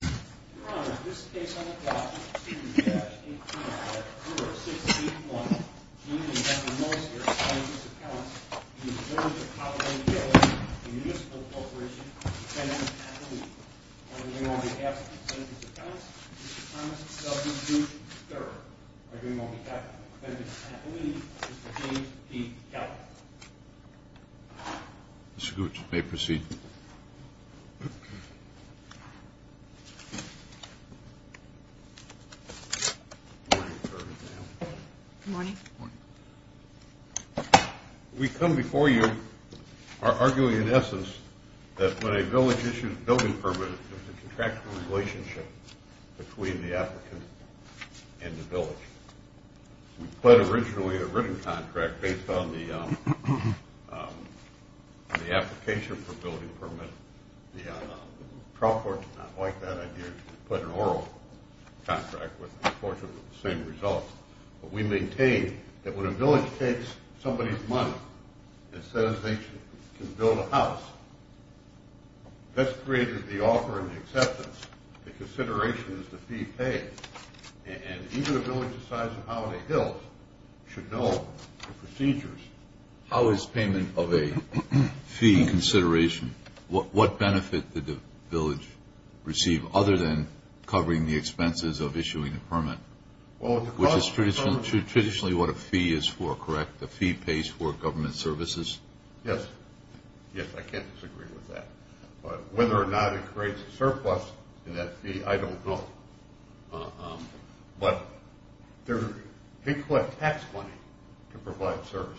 in the Municipal Corporation for the Tenement and Relief. On behalf of the Tenement and Relief, Mr. Thomas W. Gooch III. On behalf of the Tenement and Relief, Mr. James P. Gallagher. Good morning. We come before you arguing in essence that when a village issues a building permit, there's a contractual relationship between the applicant and the village. We pled originally a written contract based on the application for a building permit. The trial court did not like that idea and put an oral contract with them. Unfortunately, the same results. But we maintain that when a village takes somebody's money and says they can build a house, that's created the offer and the acceptance. The consideration is the fee paid. And even a village the size of Holiday Hills should know the procedures. How is payment of a fee consideration? What benefit did the village receive other than covering the expenses of issuing a permit? Which is traditionally what a fee is for, correct? The fee pays for government services? Yes. Yes, I can't disagree with that. But whether or not it creates a surplus in that fee, I don't know. But they collect tax money to provide services.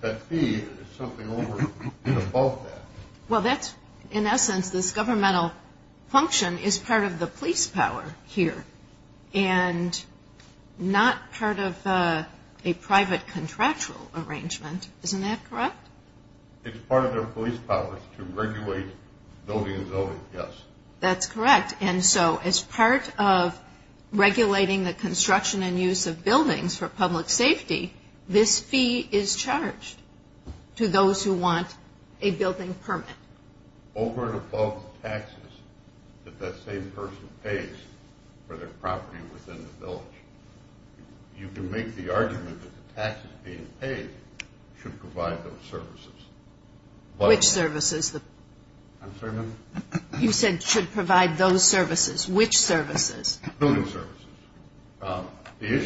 That fee is something over and above that. Well, that's in essence this governmental function is part of the police power here and not part of a private contractual arrangement. Isn't that correct? It's part of their police powers to regulate building and zoning, yes. That's correct. And so as part of regulating the construction and use of buildings for public safety, this fee is charged to those who want a building permit. Over and above taxes that that same person pays for their property within the village. You can make the argument that the taxes being paid should provide those services. I'm sorry, ma'am? You said should provide those services. Which services? Building services.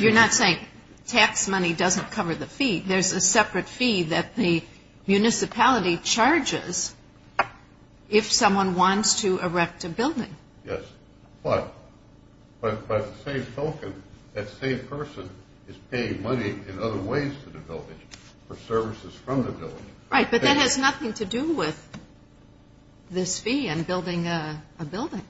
You're not saying tax money doesn't cover the fee. There's a separate fee that the municipality charges if someone wants to erect a building. Yes. But by the same token, that same person is paying money in other ways to the village for services from the village. Right, but that has nothing to do with this fee and building a building.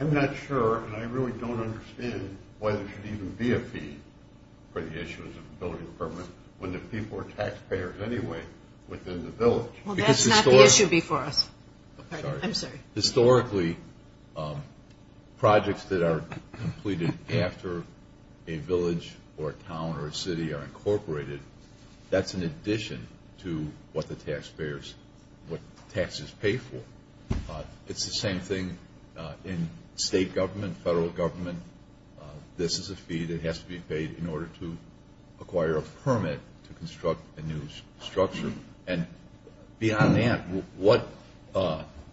I'm not sure, and I really don't understand why there should even be a fee for the issues of building permits when the people are taxpayers anyway within the village. Well, that's not the issue before us. I'm sorry. Historically, projects that are completed after a village or a town or a city are incorporated. That's in addition to what the taxpayers, what taxes pay for. It's the same thing in state government, federal government. This is a fee that has to be paid in order to acquire a permit to construct a new structure. And beyond that, what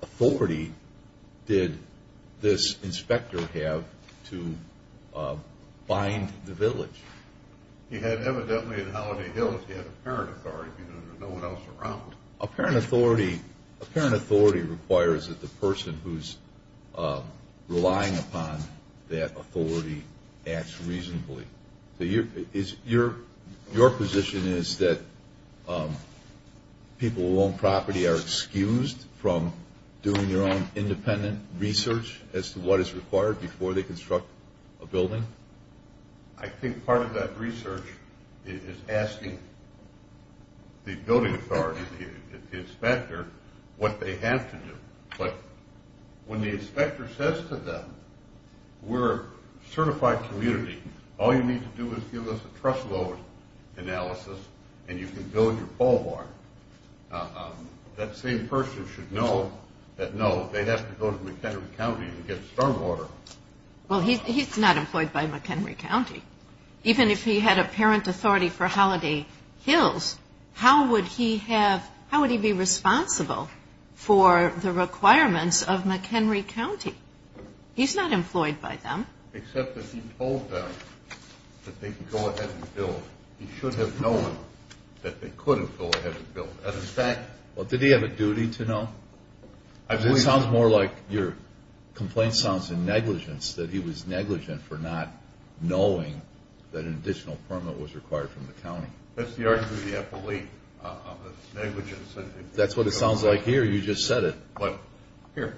authority did this inspector have to bind the village? He had evidently in Holiday Hill, he had apparent authority because there was no one else around. Apparent authority requires that the person who's relying upon that authority acts reasonably. So your position is that people who own property are excused from doing their own independent research as to what is required before they construct a building? I think part of that research is asking the building authority, the inspector, what they have to do. But when the inspector says to them, we're a certified community. All you need to do is give us a trust load analysis, and you can build your boulevard, that same person should know that no, they have to go to McHenry County and get stormwater. Well, he's not employed by McHenry County. Even if he had apparent authority for Holiday Hills, how would he be responsible for the requirements of McHenry County? He's not employed by them. Except that he told them that they could go ahead and build. He should have known that they couldn't go ahead and build. As a fact... Well, did he have a duty to know? It sounds more like your complaint sounds in negligence, that he was negligent for not knowing that an additional permit was required from the county. That's the argument that I believe. That's what it sounds like here. You just said it. Here.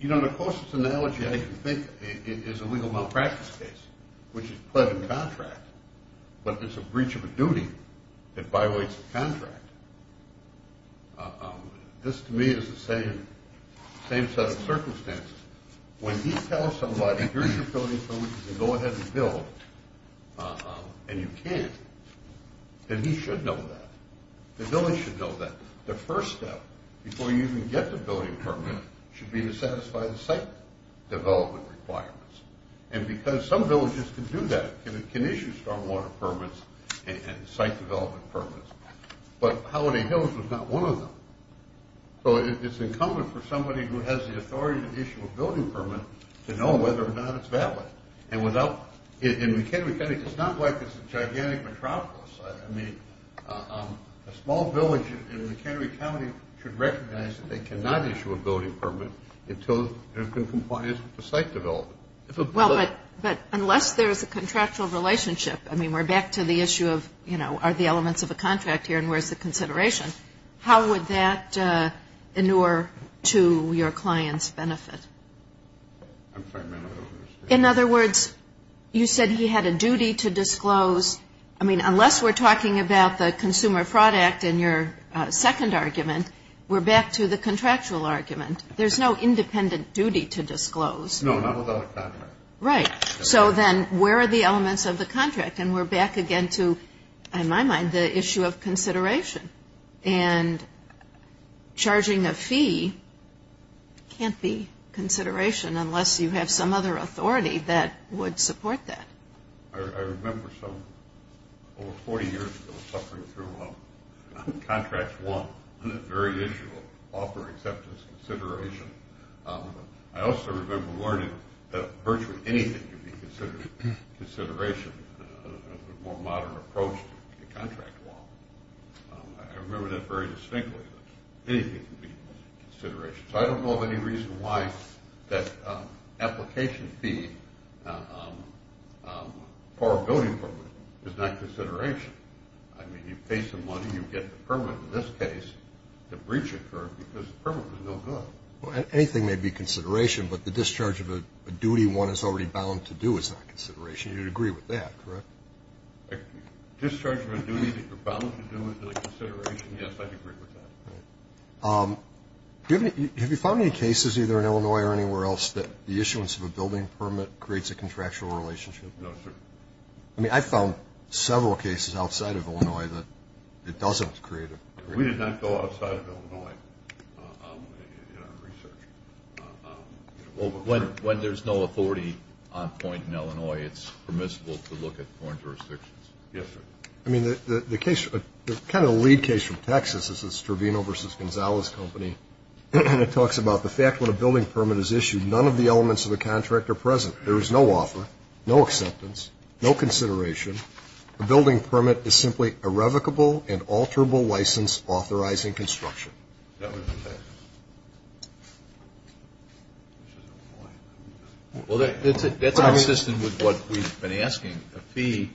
You know, the closest analogy I can think of is a legal malpractice case, which is pled and contract. But there's a breach of a duty that violates a contract. This, to me, is the same set of circumstances. When he tells somebody, here's your building permit, you can go ahead and build, and you can't, then he should know that. The village should know that. The first step before you even get the building permit should be to satisfy the site development requirements. And because some villages can do that, can issue stormwater permits and site development permits, but Holiday Hills was not one of them. So it's incumbent for somebody who has the authority to issue a building permit to know whether or not it's valid. And in McHenry County, it's not like it's a gigantic metropolis. I mean, a small village in McHenry County should recognize that they cannot issue a building permit until there's been compliance with the site development. Well, but unless there's a contractual relationship, I mean, we're back to the issue of, you know, are the elements of a contract here and where's the consideration, how would that inure to your client's benefit? I'm sorry, ma'am, I don't understand. In other words, you said he had a duty to disclose. I mean, unless we're talking about the Consumer Fraud Act in your second argument, we're back to the contractual argument. There's no independent duty to disclose. No, not without a contract. Right. So then where are the elements of the contract? And we're back again to, in my mind, the issue of consideration. And charging a fee can't be consideration unless you have some other authority that would support that. I remember some over 40 years ago suffering through Contract 1, the very issue of offer, acceptance, consideration. I also remember learning that virtually anything can be considered consideration, a more modern approach to Contract 1. I remember that very distinctly, that anything can be consideration. So I don't know of any reason why that application fee for a building permit is not consideration. I mean, you pay some money, you get the permit. In this case, the breach occurred because the permit was no good. Anything may be consideration, but the discharge of a duty one is already bound to do is not consideration. You'd agree with that, correct? Discharge of a duty that you're bound to do is a consideration? Yes, I'd agree with that. Have you found any cases, either in Illinois or anywhere else, that the issuance of a building permit creates a contractual relationship? No, sir. I mean, I found several cases outside of Illinois that it doesn't create a relationship. We did not go outside of Illinois in our research. When there's no authority on point in Illinois, it's permissible to look at foreign jurisdictions. Yes, sir. I mean, the case, the kind of lead case from Texas is the Stravino v. Gonzalez Company. It talks about the fact when a building permit is issued, none of the elements of the contract are present. There is no offer, no acceptance, no consideration. A building permit is simply irrevocable and alterable license authorizing construction. Is that what it says? Well, that's consistent with what we've been asking, a fee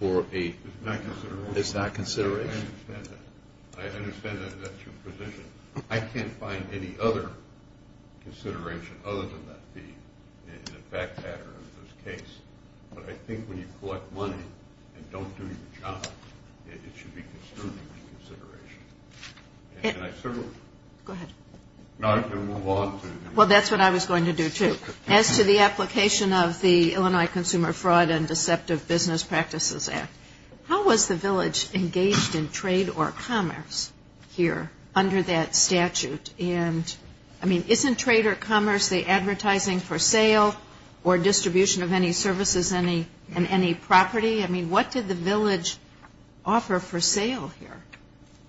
for a – It's not consideration? It's not consideration. I understand that. I understand that that's your position. I can't find any other consideration other than that fee in the fact pattern of this case. But I think when you collect money and don't do your job, it should be considered a consideration. And I certainly – Go ahead. No, I'm going to move on to – Well, that's what I was going to do, too. As to the application of the Illinois Consumer Fraud and Deceptive Business Practices Act, how was the village engaged in trade or commerce here under that statute? And, I mean, isn't trade or commerce the advertising for sale or distribution of any services in any property? I mean, what did the village offer for sale here?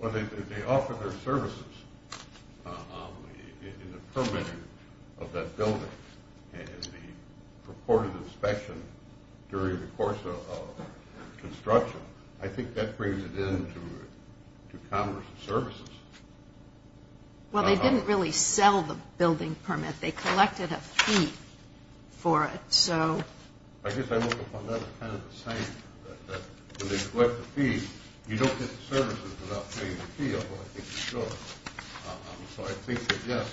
Well, they offered their services in the permitting of that building. And the purported inspection during the course of construction, I think that brings it into commerce and services. Well, they didn't really sell the building permit. They collected a fee for it. I guess I look upon that as kind of the same, that when they collect the fee, you don't get the services without paying the fee, although I think you should. So I think that, yes,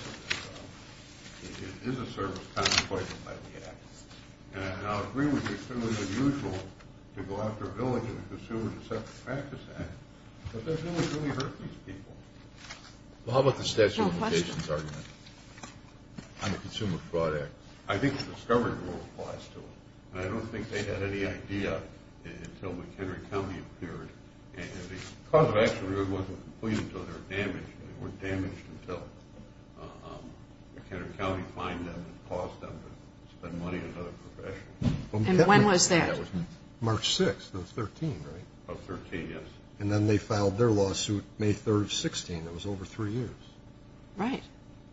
it is a service contemplated by the Act. And I agree with you, it's certainly unusual to go after a village in the Consumer Deceptive Practice Act, but there's no one who really hurt these people. Well, how about the statute of limitations argument on the Consumer Fraud Act? I think the discovery rule applies to it. And I don't think they had any idea until McHenry County appeared. And the cause of action really wasn't completed until they were damaged, and they weren't damaged until McHenry County fined them and caused them to spend money on other professions. And when was that? March 6th of 13, right? Of 13, yes. And then they filed their lawsuit May 3rd of 16. It was over three years. Right.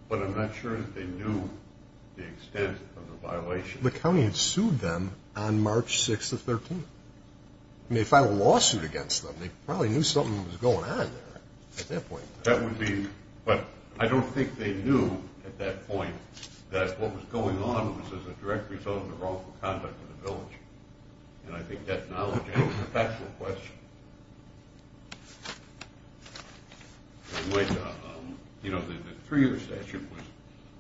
But I'm not sure that they knew the extent of the violation. The county had sued them on March 6th of 13. They filed a lawsuit against them. They probably knew something was going on there at that point. But I don't think they knew at that point that what was going on was a direct result of the wrongful conduct of the village. And I think that knowledge is a factual question. You know, the three-year statute,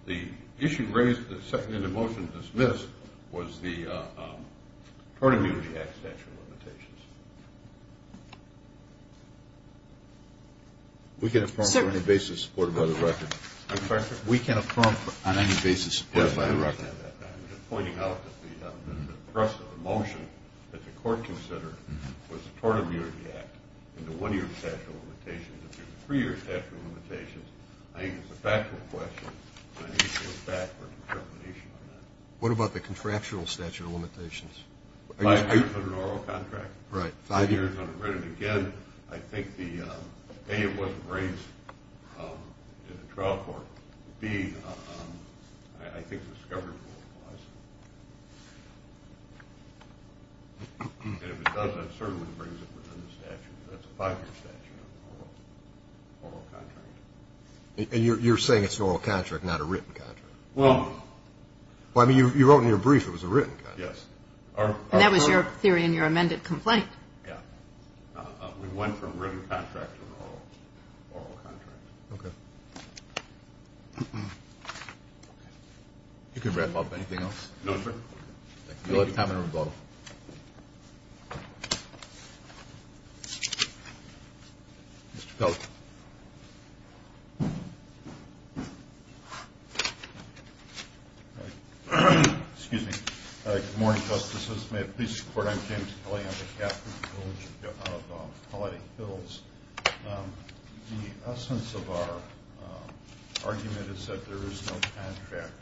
the issue raised in the motion dismissed was the Tort Immunity Act statute limitations. We can affirm on any basis supported by the record. I'm sorry, sir? We can affirm on any basis supported by the record. I'm just pointing out that the process of the motion that the court considered was the Tort Immunity Act and the one-year statute of limitations. If there's a three-year statute of limitations, I think it's a factual question, and I need to go back for a determination on that. What about the contractual statute of limitations? Five years under the oral contract. Right. Five years under written. Again, I think, A, it wasn't raised in the trial court. B, I think it was discovered multiple times. And if it does, that certainly brings it within the statute. That's a five-year statute of oral contract. And you're saying it's an oral contract, not a written contract? Well, I mean, you wrote in your brief it was a written contract. Yes. And that was your theory in your amended complaint. Yeah. We went from written contract to an oral contract. Okay. You can wrap up. Anything else? No, Your Honor. Thank you. You'll have time in rebuttal. Mr. Pelt. Excuse me. Good morning, Justices. May it please the Court, I'm James Kelly. I'm the captain of the village of Palo Alto Hills. The essence of our argument is that there is no contract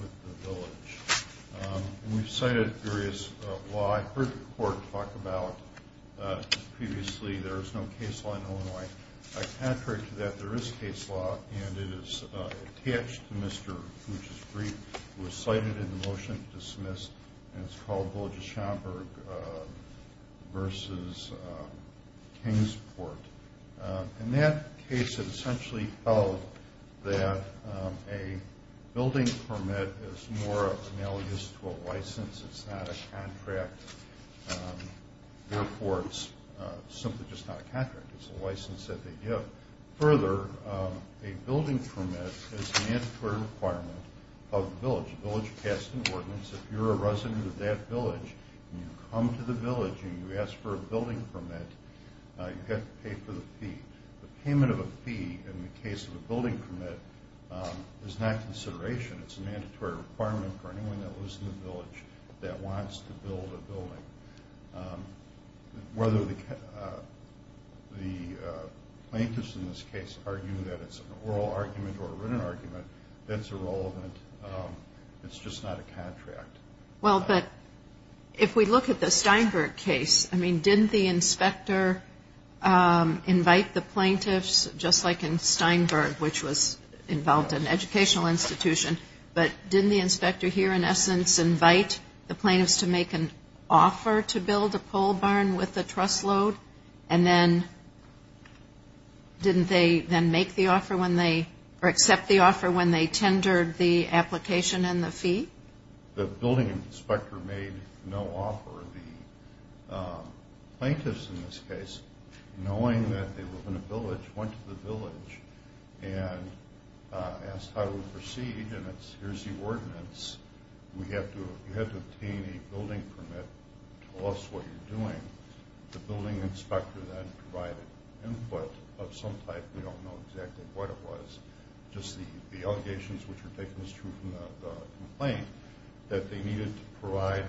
with the village. And we've cited various laws. I heard the Court talk about previously there is no case law in Illinois. I contrary to that, there is a case law, and it is attached to Mr. Boucher's brief. It was cited in the motion, dismissed, and it's called Village of Schomburg v. Kingsport. In that case, it essentially held that a building permit is more analogous to a license. It's not a contract. Therefore, it's simply just not a contract. It's a license that they give. Further, a building permit is a mandatory requirement of the village. The village passed an ordinance. If you're a resident of that village and you come to the village and you ask for a building permit, you have to pay for the fee. The payment of a fee in the case of a building permit is not consideration. It's a mandatory requirement for anyone that lives in the village that wants to build a building. Whether the plaintiffs in this case argue that it's an oral argument or a written argument, that's irrelevant. It's just not a contract. Well, but if we look at the Steinberg case, I mean, didn't the inspector invite the plaintiffs, just like in Steinberg, which was involved in an educational institution, but didn't the inspector here in essence invite the plaintiffs to make an offer to build a pole barn with a when they tendered the application and the fee? The building inspector made no offer. The plaintiffs in this case, knowing that they live in a village, went to the village and asked how to proceed, and here's the ordinance. You have to obtain a building permit to tell us what you're doing. The building inspector then provided input of some type. We don't know exactly what it was. Just the allegations which were taken as true from the complaint, that they needed to provide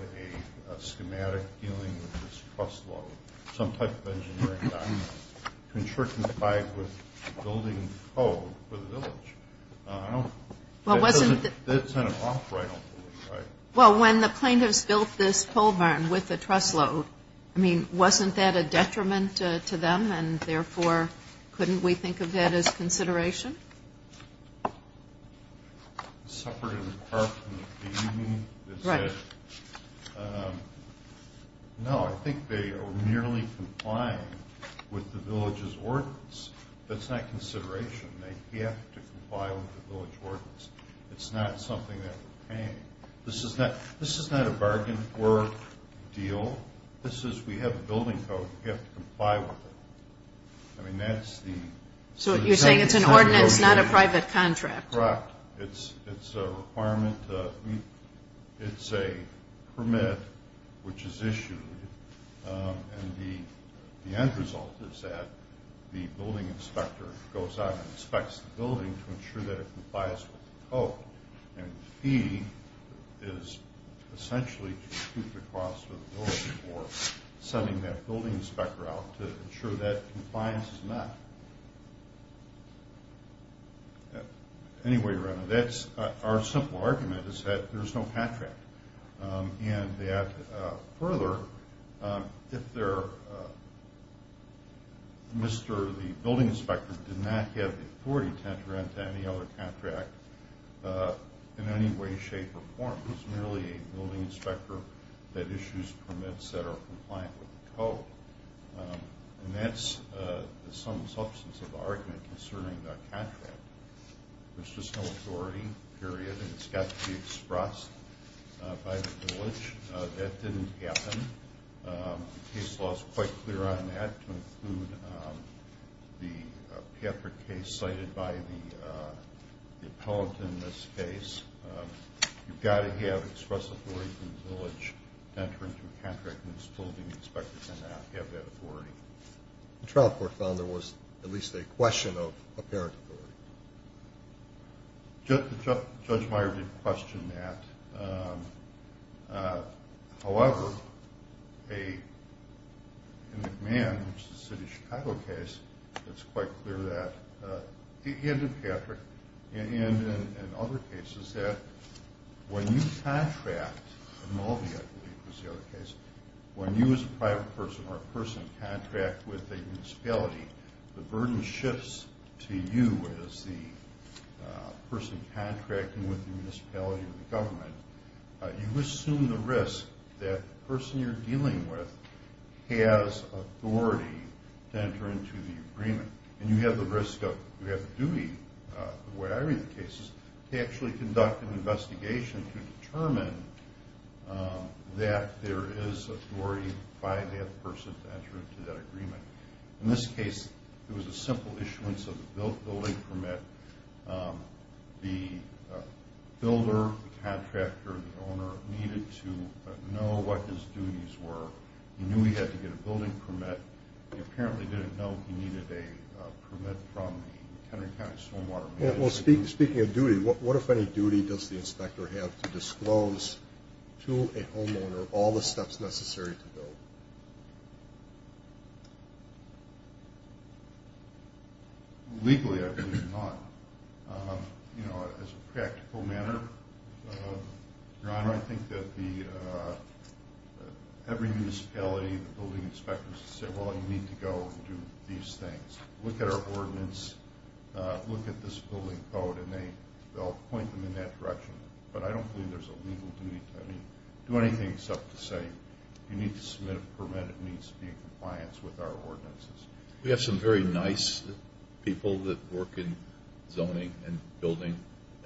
a schematic dealing with this truss load, some type of engineering document, to certify with building code for the village. I don't know. That's kind of off, right? Well, when the plaintiffs built this pole barn with the truss load, I mean, wasn't that a detriment to them, and therefore couldn't we think of that as consideration? Separate and apart from the fee, you mean? Right. No, I think they are merely complying with the village's ordinance. That's not consideration. They have to comply with the village ordinance. It's not something that we're paying. This is not a bargain for a deal. This is, we have the building code. We have to comply with it. I mean, that's the... So you're saying it's an ordinance, not a private contract. Correct. It's a requirement. It's a permit which is issued, and the end result is that the building inspector goes out and inspects the building to ensure that it complies with the code. And the fee is essentially to keep the cost of the building for sending that building inspector out to ensure that compliance is met. Anyway, our simple argument is that there's no contract, and that further, if the building inspector did not have the authority to enter into any other contract in any way, shape, or form, it's merely a building inspector that issues permits that are compliant with the code. And that's some substance of the argument concerning the contract. There's just no authority, period, and it's got to be expressed by the village. That didn't happen. The case law is quite clear on that to include the PAPR case cited by the appellant in this case. You've got to have express authority from the village to enter into a contract, and the building inspector cannot have that authority. The trial court found there was at least a question of apparent authority. Judge Meyer did question that. However, in McMahon, which is a city of Chicago case, it's quite clear that, and in Patrick, and in other cases, that when you contract, in Mulvey, I believe, was the other case, when you as a private person or a person contract with a municipality, the burden shifts to you as the person contracting with the municipality or the government. You assume the risk that the person you're dealing with has authority to enter into the agreement, and you have the risk of, you have the duty, the way I read the case, is to actually conduct an investigation to determine that there is authority by that person to enter into that agreement. In this case, it was a simple issuance of a building permit. The builder, the contractor, the owner needed to know what his duties were. He knew he had to get a building permit. He apparently didn't know he needed a permit from the Henry County Swim Water Project. Well, speaking of duty, what, if any, duty does the inspector have to disclose to a homeowner all the steps necessary to build? Legally, I believe not. You know, as a practical matter, Your Honor, I think that every municipality, the building inspectors say, well, you need to go do these things. Look at our ordinance. Look at this building code, and they'll point them in that direction. But I don't believe there's a legal duty. I mean, do anything except to say, you need to submit a permit. It needs to be in compliance with our ordinances. We have some very nice people that work in zoning and building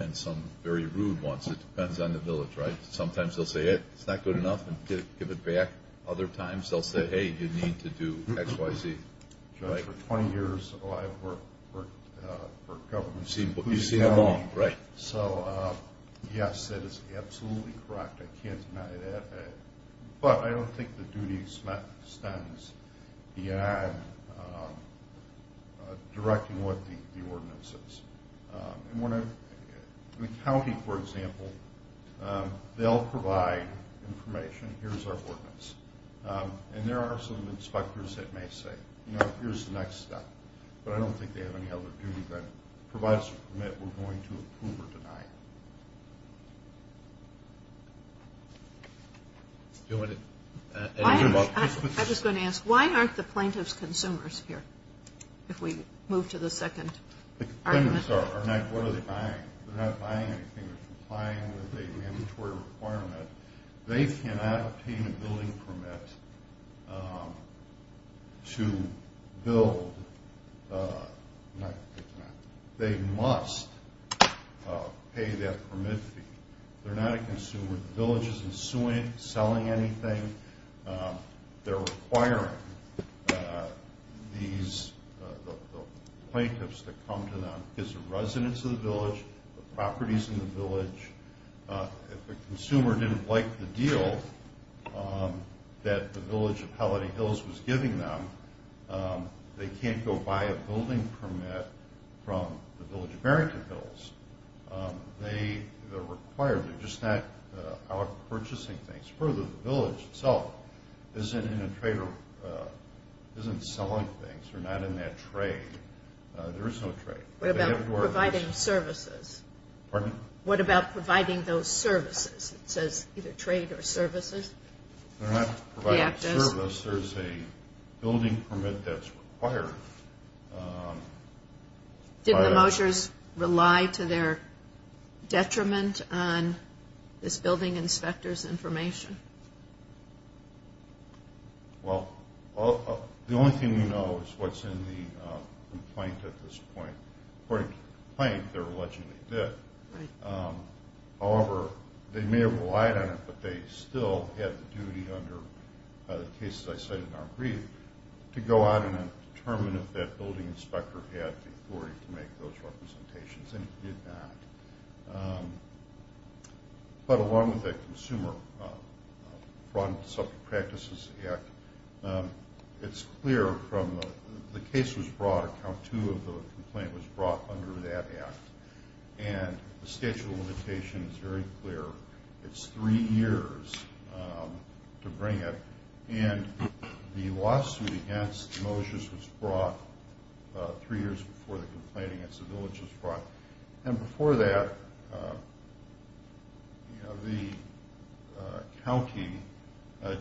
and some very rude ones. It depends on the village, right? Sometimes they'll say, hey, it's not good enough, and give it back. Other times they'll say, hey, you need to do X, Y, Z. For 20 years, I've worked for governments. You've seen them all, right? So, yes, that is absolutely correct. I can't deny that. But I don't think the duty extends beyond directing what the ordinance is. In the county, for example, they'll provide information. Here's our ordinance. And there are some inspectors that may say, you know, here's the next step. But I don't think they have any other duty that provides a permit we're going to approve or deny. I was going to ask, why aren't the plaintiffs consumers here, if we move to the second argument? The plaintiffs are not. What are they buying? They're not buying anything. They're complying with a mandatory requirement. They cannot obtain a building permit to build. They must pay that permit fee. They're not a consumer. The village isn't suing, selling anything. They're requiring the plaintiffs to come to them. It's the residents of the village, the properties in the village. If a consumer didn't like the deal that the village of Holiday Hills was giving them, they can't go buy a building permit from the village of Barrington Hills. They're required. They're just not out purchasing things. Further, the village itself isn't in a trade or isn't selling things. They're not in that trade. There is no trade. What about providing services? Pardon? What about providing those services? It says either trade or services. They're not providing service. There's a building permit that's required. Didn't the Mosiers rely to their detriment on this building inspector's information? Well, the only thing we know is what's in the complaint at this point. According to the complaint, they allegedly did. However, they may have relied on it, but they still had the duty under the cases I cited in our brief to go out and determine if that building inspector had the authority to make those representations, and he did not. But along with the Consumer Fraud and Subject Practices Act, it's clear from the case was brought, account two of the complaint was brought under that act, and the statute of limitations is very clear. It's three years to bring it, and the lawsuit against Mosiers was brought three years before the complaint against the village was brought. And before that, the county, I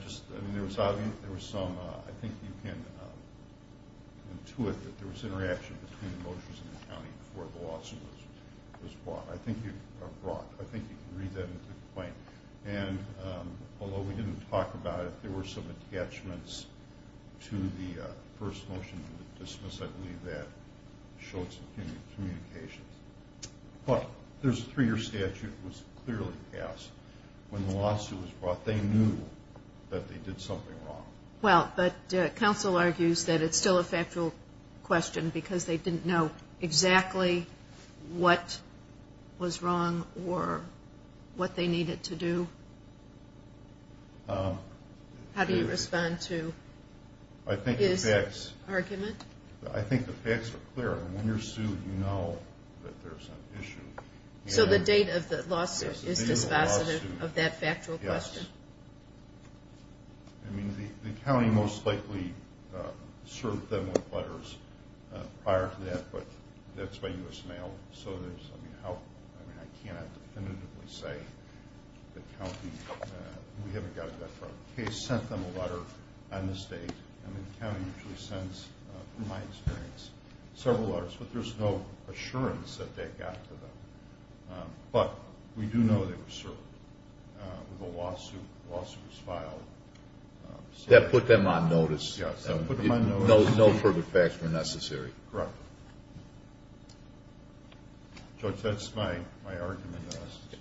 think you can intuit that there was interaction between Mosiers and the county before the lawsuit was brought. I think you can read that into the complaint. And although we didn't talk about it, there were some attachments to the first motion to dismiss. I believe that showed some communications. But the three-year statute was clearly passed. When the lawsuit was brought, they knew that they did something wrong. Well, but counsel argues that it's still a factual question because they didn't know exactly what was wrong or what they needed to do. How do you respond to his argument? I think the facts are clear. When you're sued, you know that there's an issue. So the date of the lawsuit is dispositive of that factual question? Yes. I mean, the county most likely served them with letters prior to that, but that's by U.S. mail. I mean, I can't definitively say that the county, we haven't gotten that far of a case, sent them a letter on this date. I mean, the county usually sends, in my experience, several letters. But there's no assurance that that got to them. But we do know they were served with a lawsuit. The lawsuit was filed. That put them on notice. Yes, that put them on notice. No further facts were necessary. Correct. Judge, that's my argument.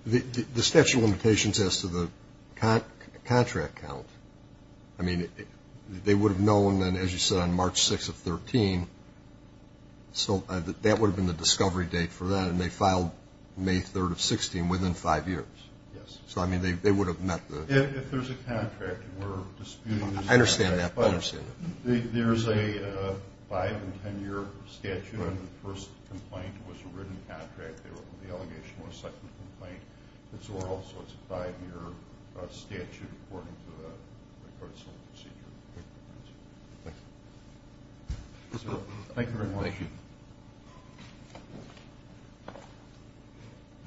The statute of limitations as to the contract count, I mean, they would have known, as you said, on March 6th of 2013. So that would have been the discovery date for that, and they filed May 3rd of 2016 within five years. Yes. So, I mean, they would have met the – If there's a contract and we're disputing – I understand that. There's a five- and ten-year statute. The first complaint was a written contract. The allegation was a second complaint. It's oral, so it's a five-year statute according to the court's own procedure. Thank you. Thank you very much. Thank you.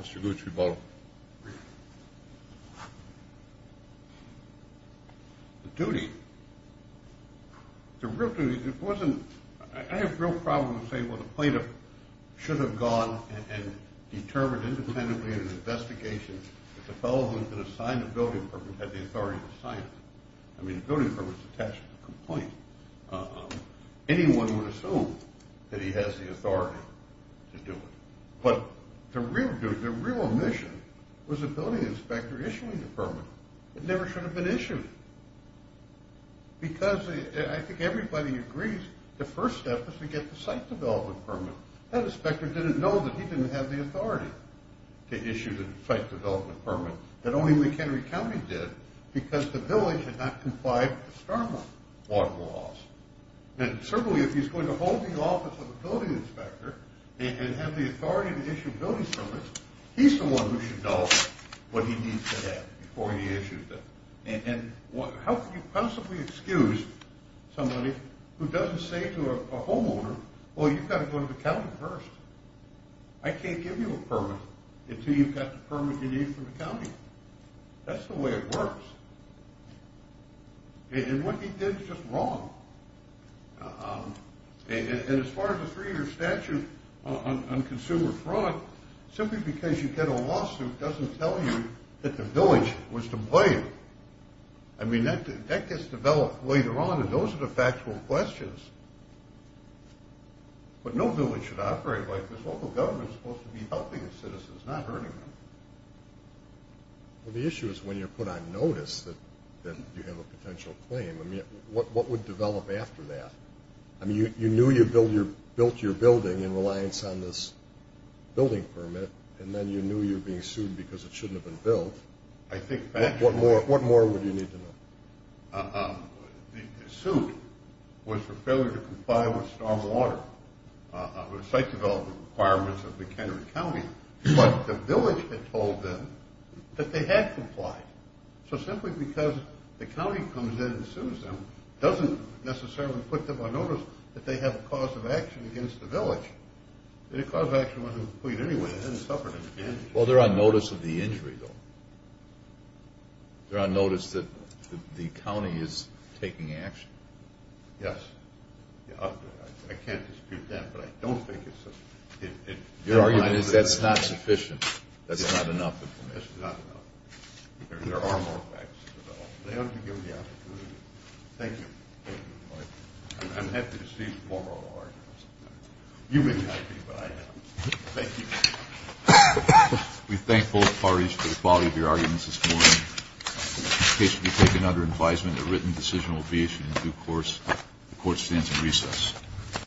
Mr. Gucci, vote. Vote. The duty, the real duty, it wasn't – I have no problem with saying, well, the plaintiff should have gone and determined independently in an investigation that the fellow who had been assigned the building permit had the authority to sign it. I mean, the building permit's attached to the complaint. Anyone would assume that he has the authority to do it. But the real duty, the real omission, was the building inspector issuing the permit. It never should have been issued. Because I think everybody agrees the first step is to get the site development permit. That inspector didn't know that he didn't have the authority to issue the site development permit, that only McHenry County did, because the village had not complied with the Starmont water laws. And certainly, if he's going to hold the office of a building inspector and have the authority to issue building permits, he's the one who should know what he needs to have before he issues them. And how can you possibly excuse somebody who doesn't say to a homeowner, well, you've got to go to the county first. I can't give you a permit until you've got the permit you need from the county. That's the way it works. And what he did is just wrong. And as far as the three-year statute on consumer fraud, simply because you get a lawsuit doesn't tell you that the village was to blame. I mean, that gets developed later on, and those are the factual questions. But no village should operate like this. Local government is supposed to be helping the citizens, not hurting them. Well, the issue is when you're put on notice that you have a potential claim. I mean, what would develop after that? I mean, you knew you built your building in reliance on this building permit, and then you knew you were being sued because it shouldn't have been built. What more would you need to know? The suit was for failure to comply with stormwater, the site development requirements of McHenry County. But the village had told them that they had complied. So simply because the county comes in and sues them doesn't necessarily put them on notice that they have a cause of action against the village. The cause of action wasn't complete anyway. They hadn't suffered an injury. Well, they're on notice of the injury, though. They're on notice that the county is taking action. Yes. I can't dispute that, but I don't think it's sufficient. Your argument is that's not sufficient, that's not enough. There are more facts to develop. They ought to be given the opportunity. Thank you. I'm happy to see the formal arguments. You may not be, but I am. Thank you. We thank both parties for the quality of your arguments this morning. The case will be taken under advisement. A written decision will be issued in due course. The Court stands in recess.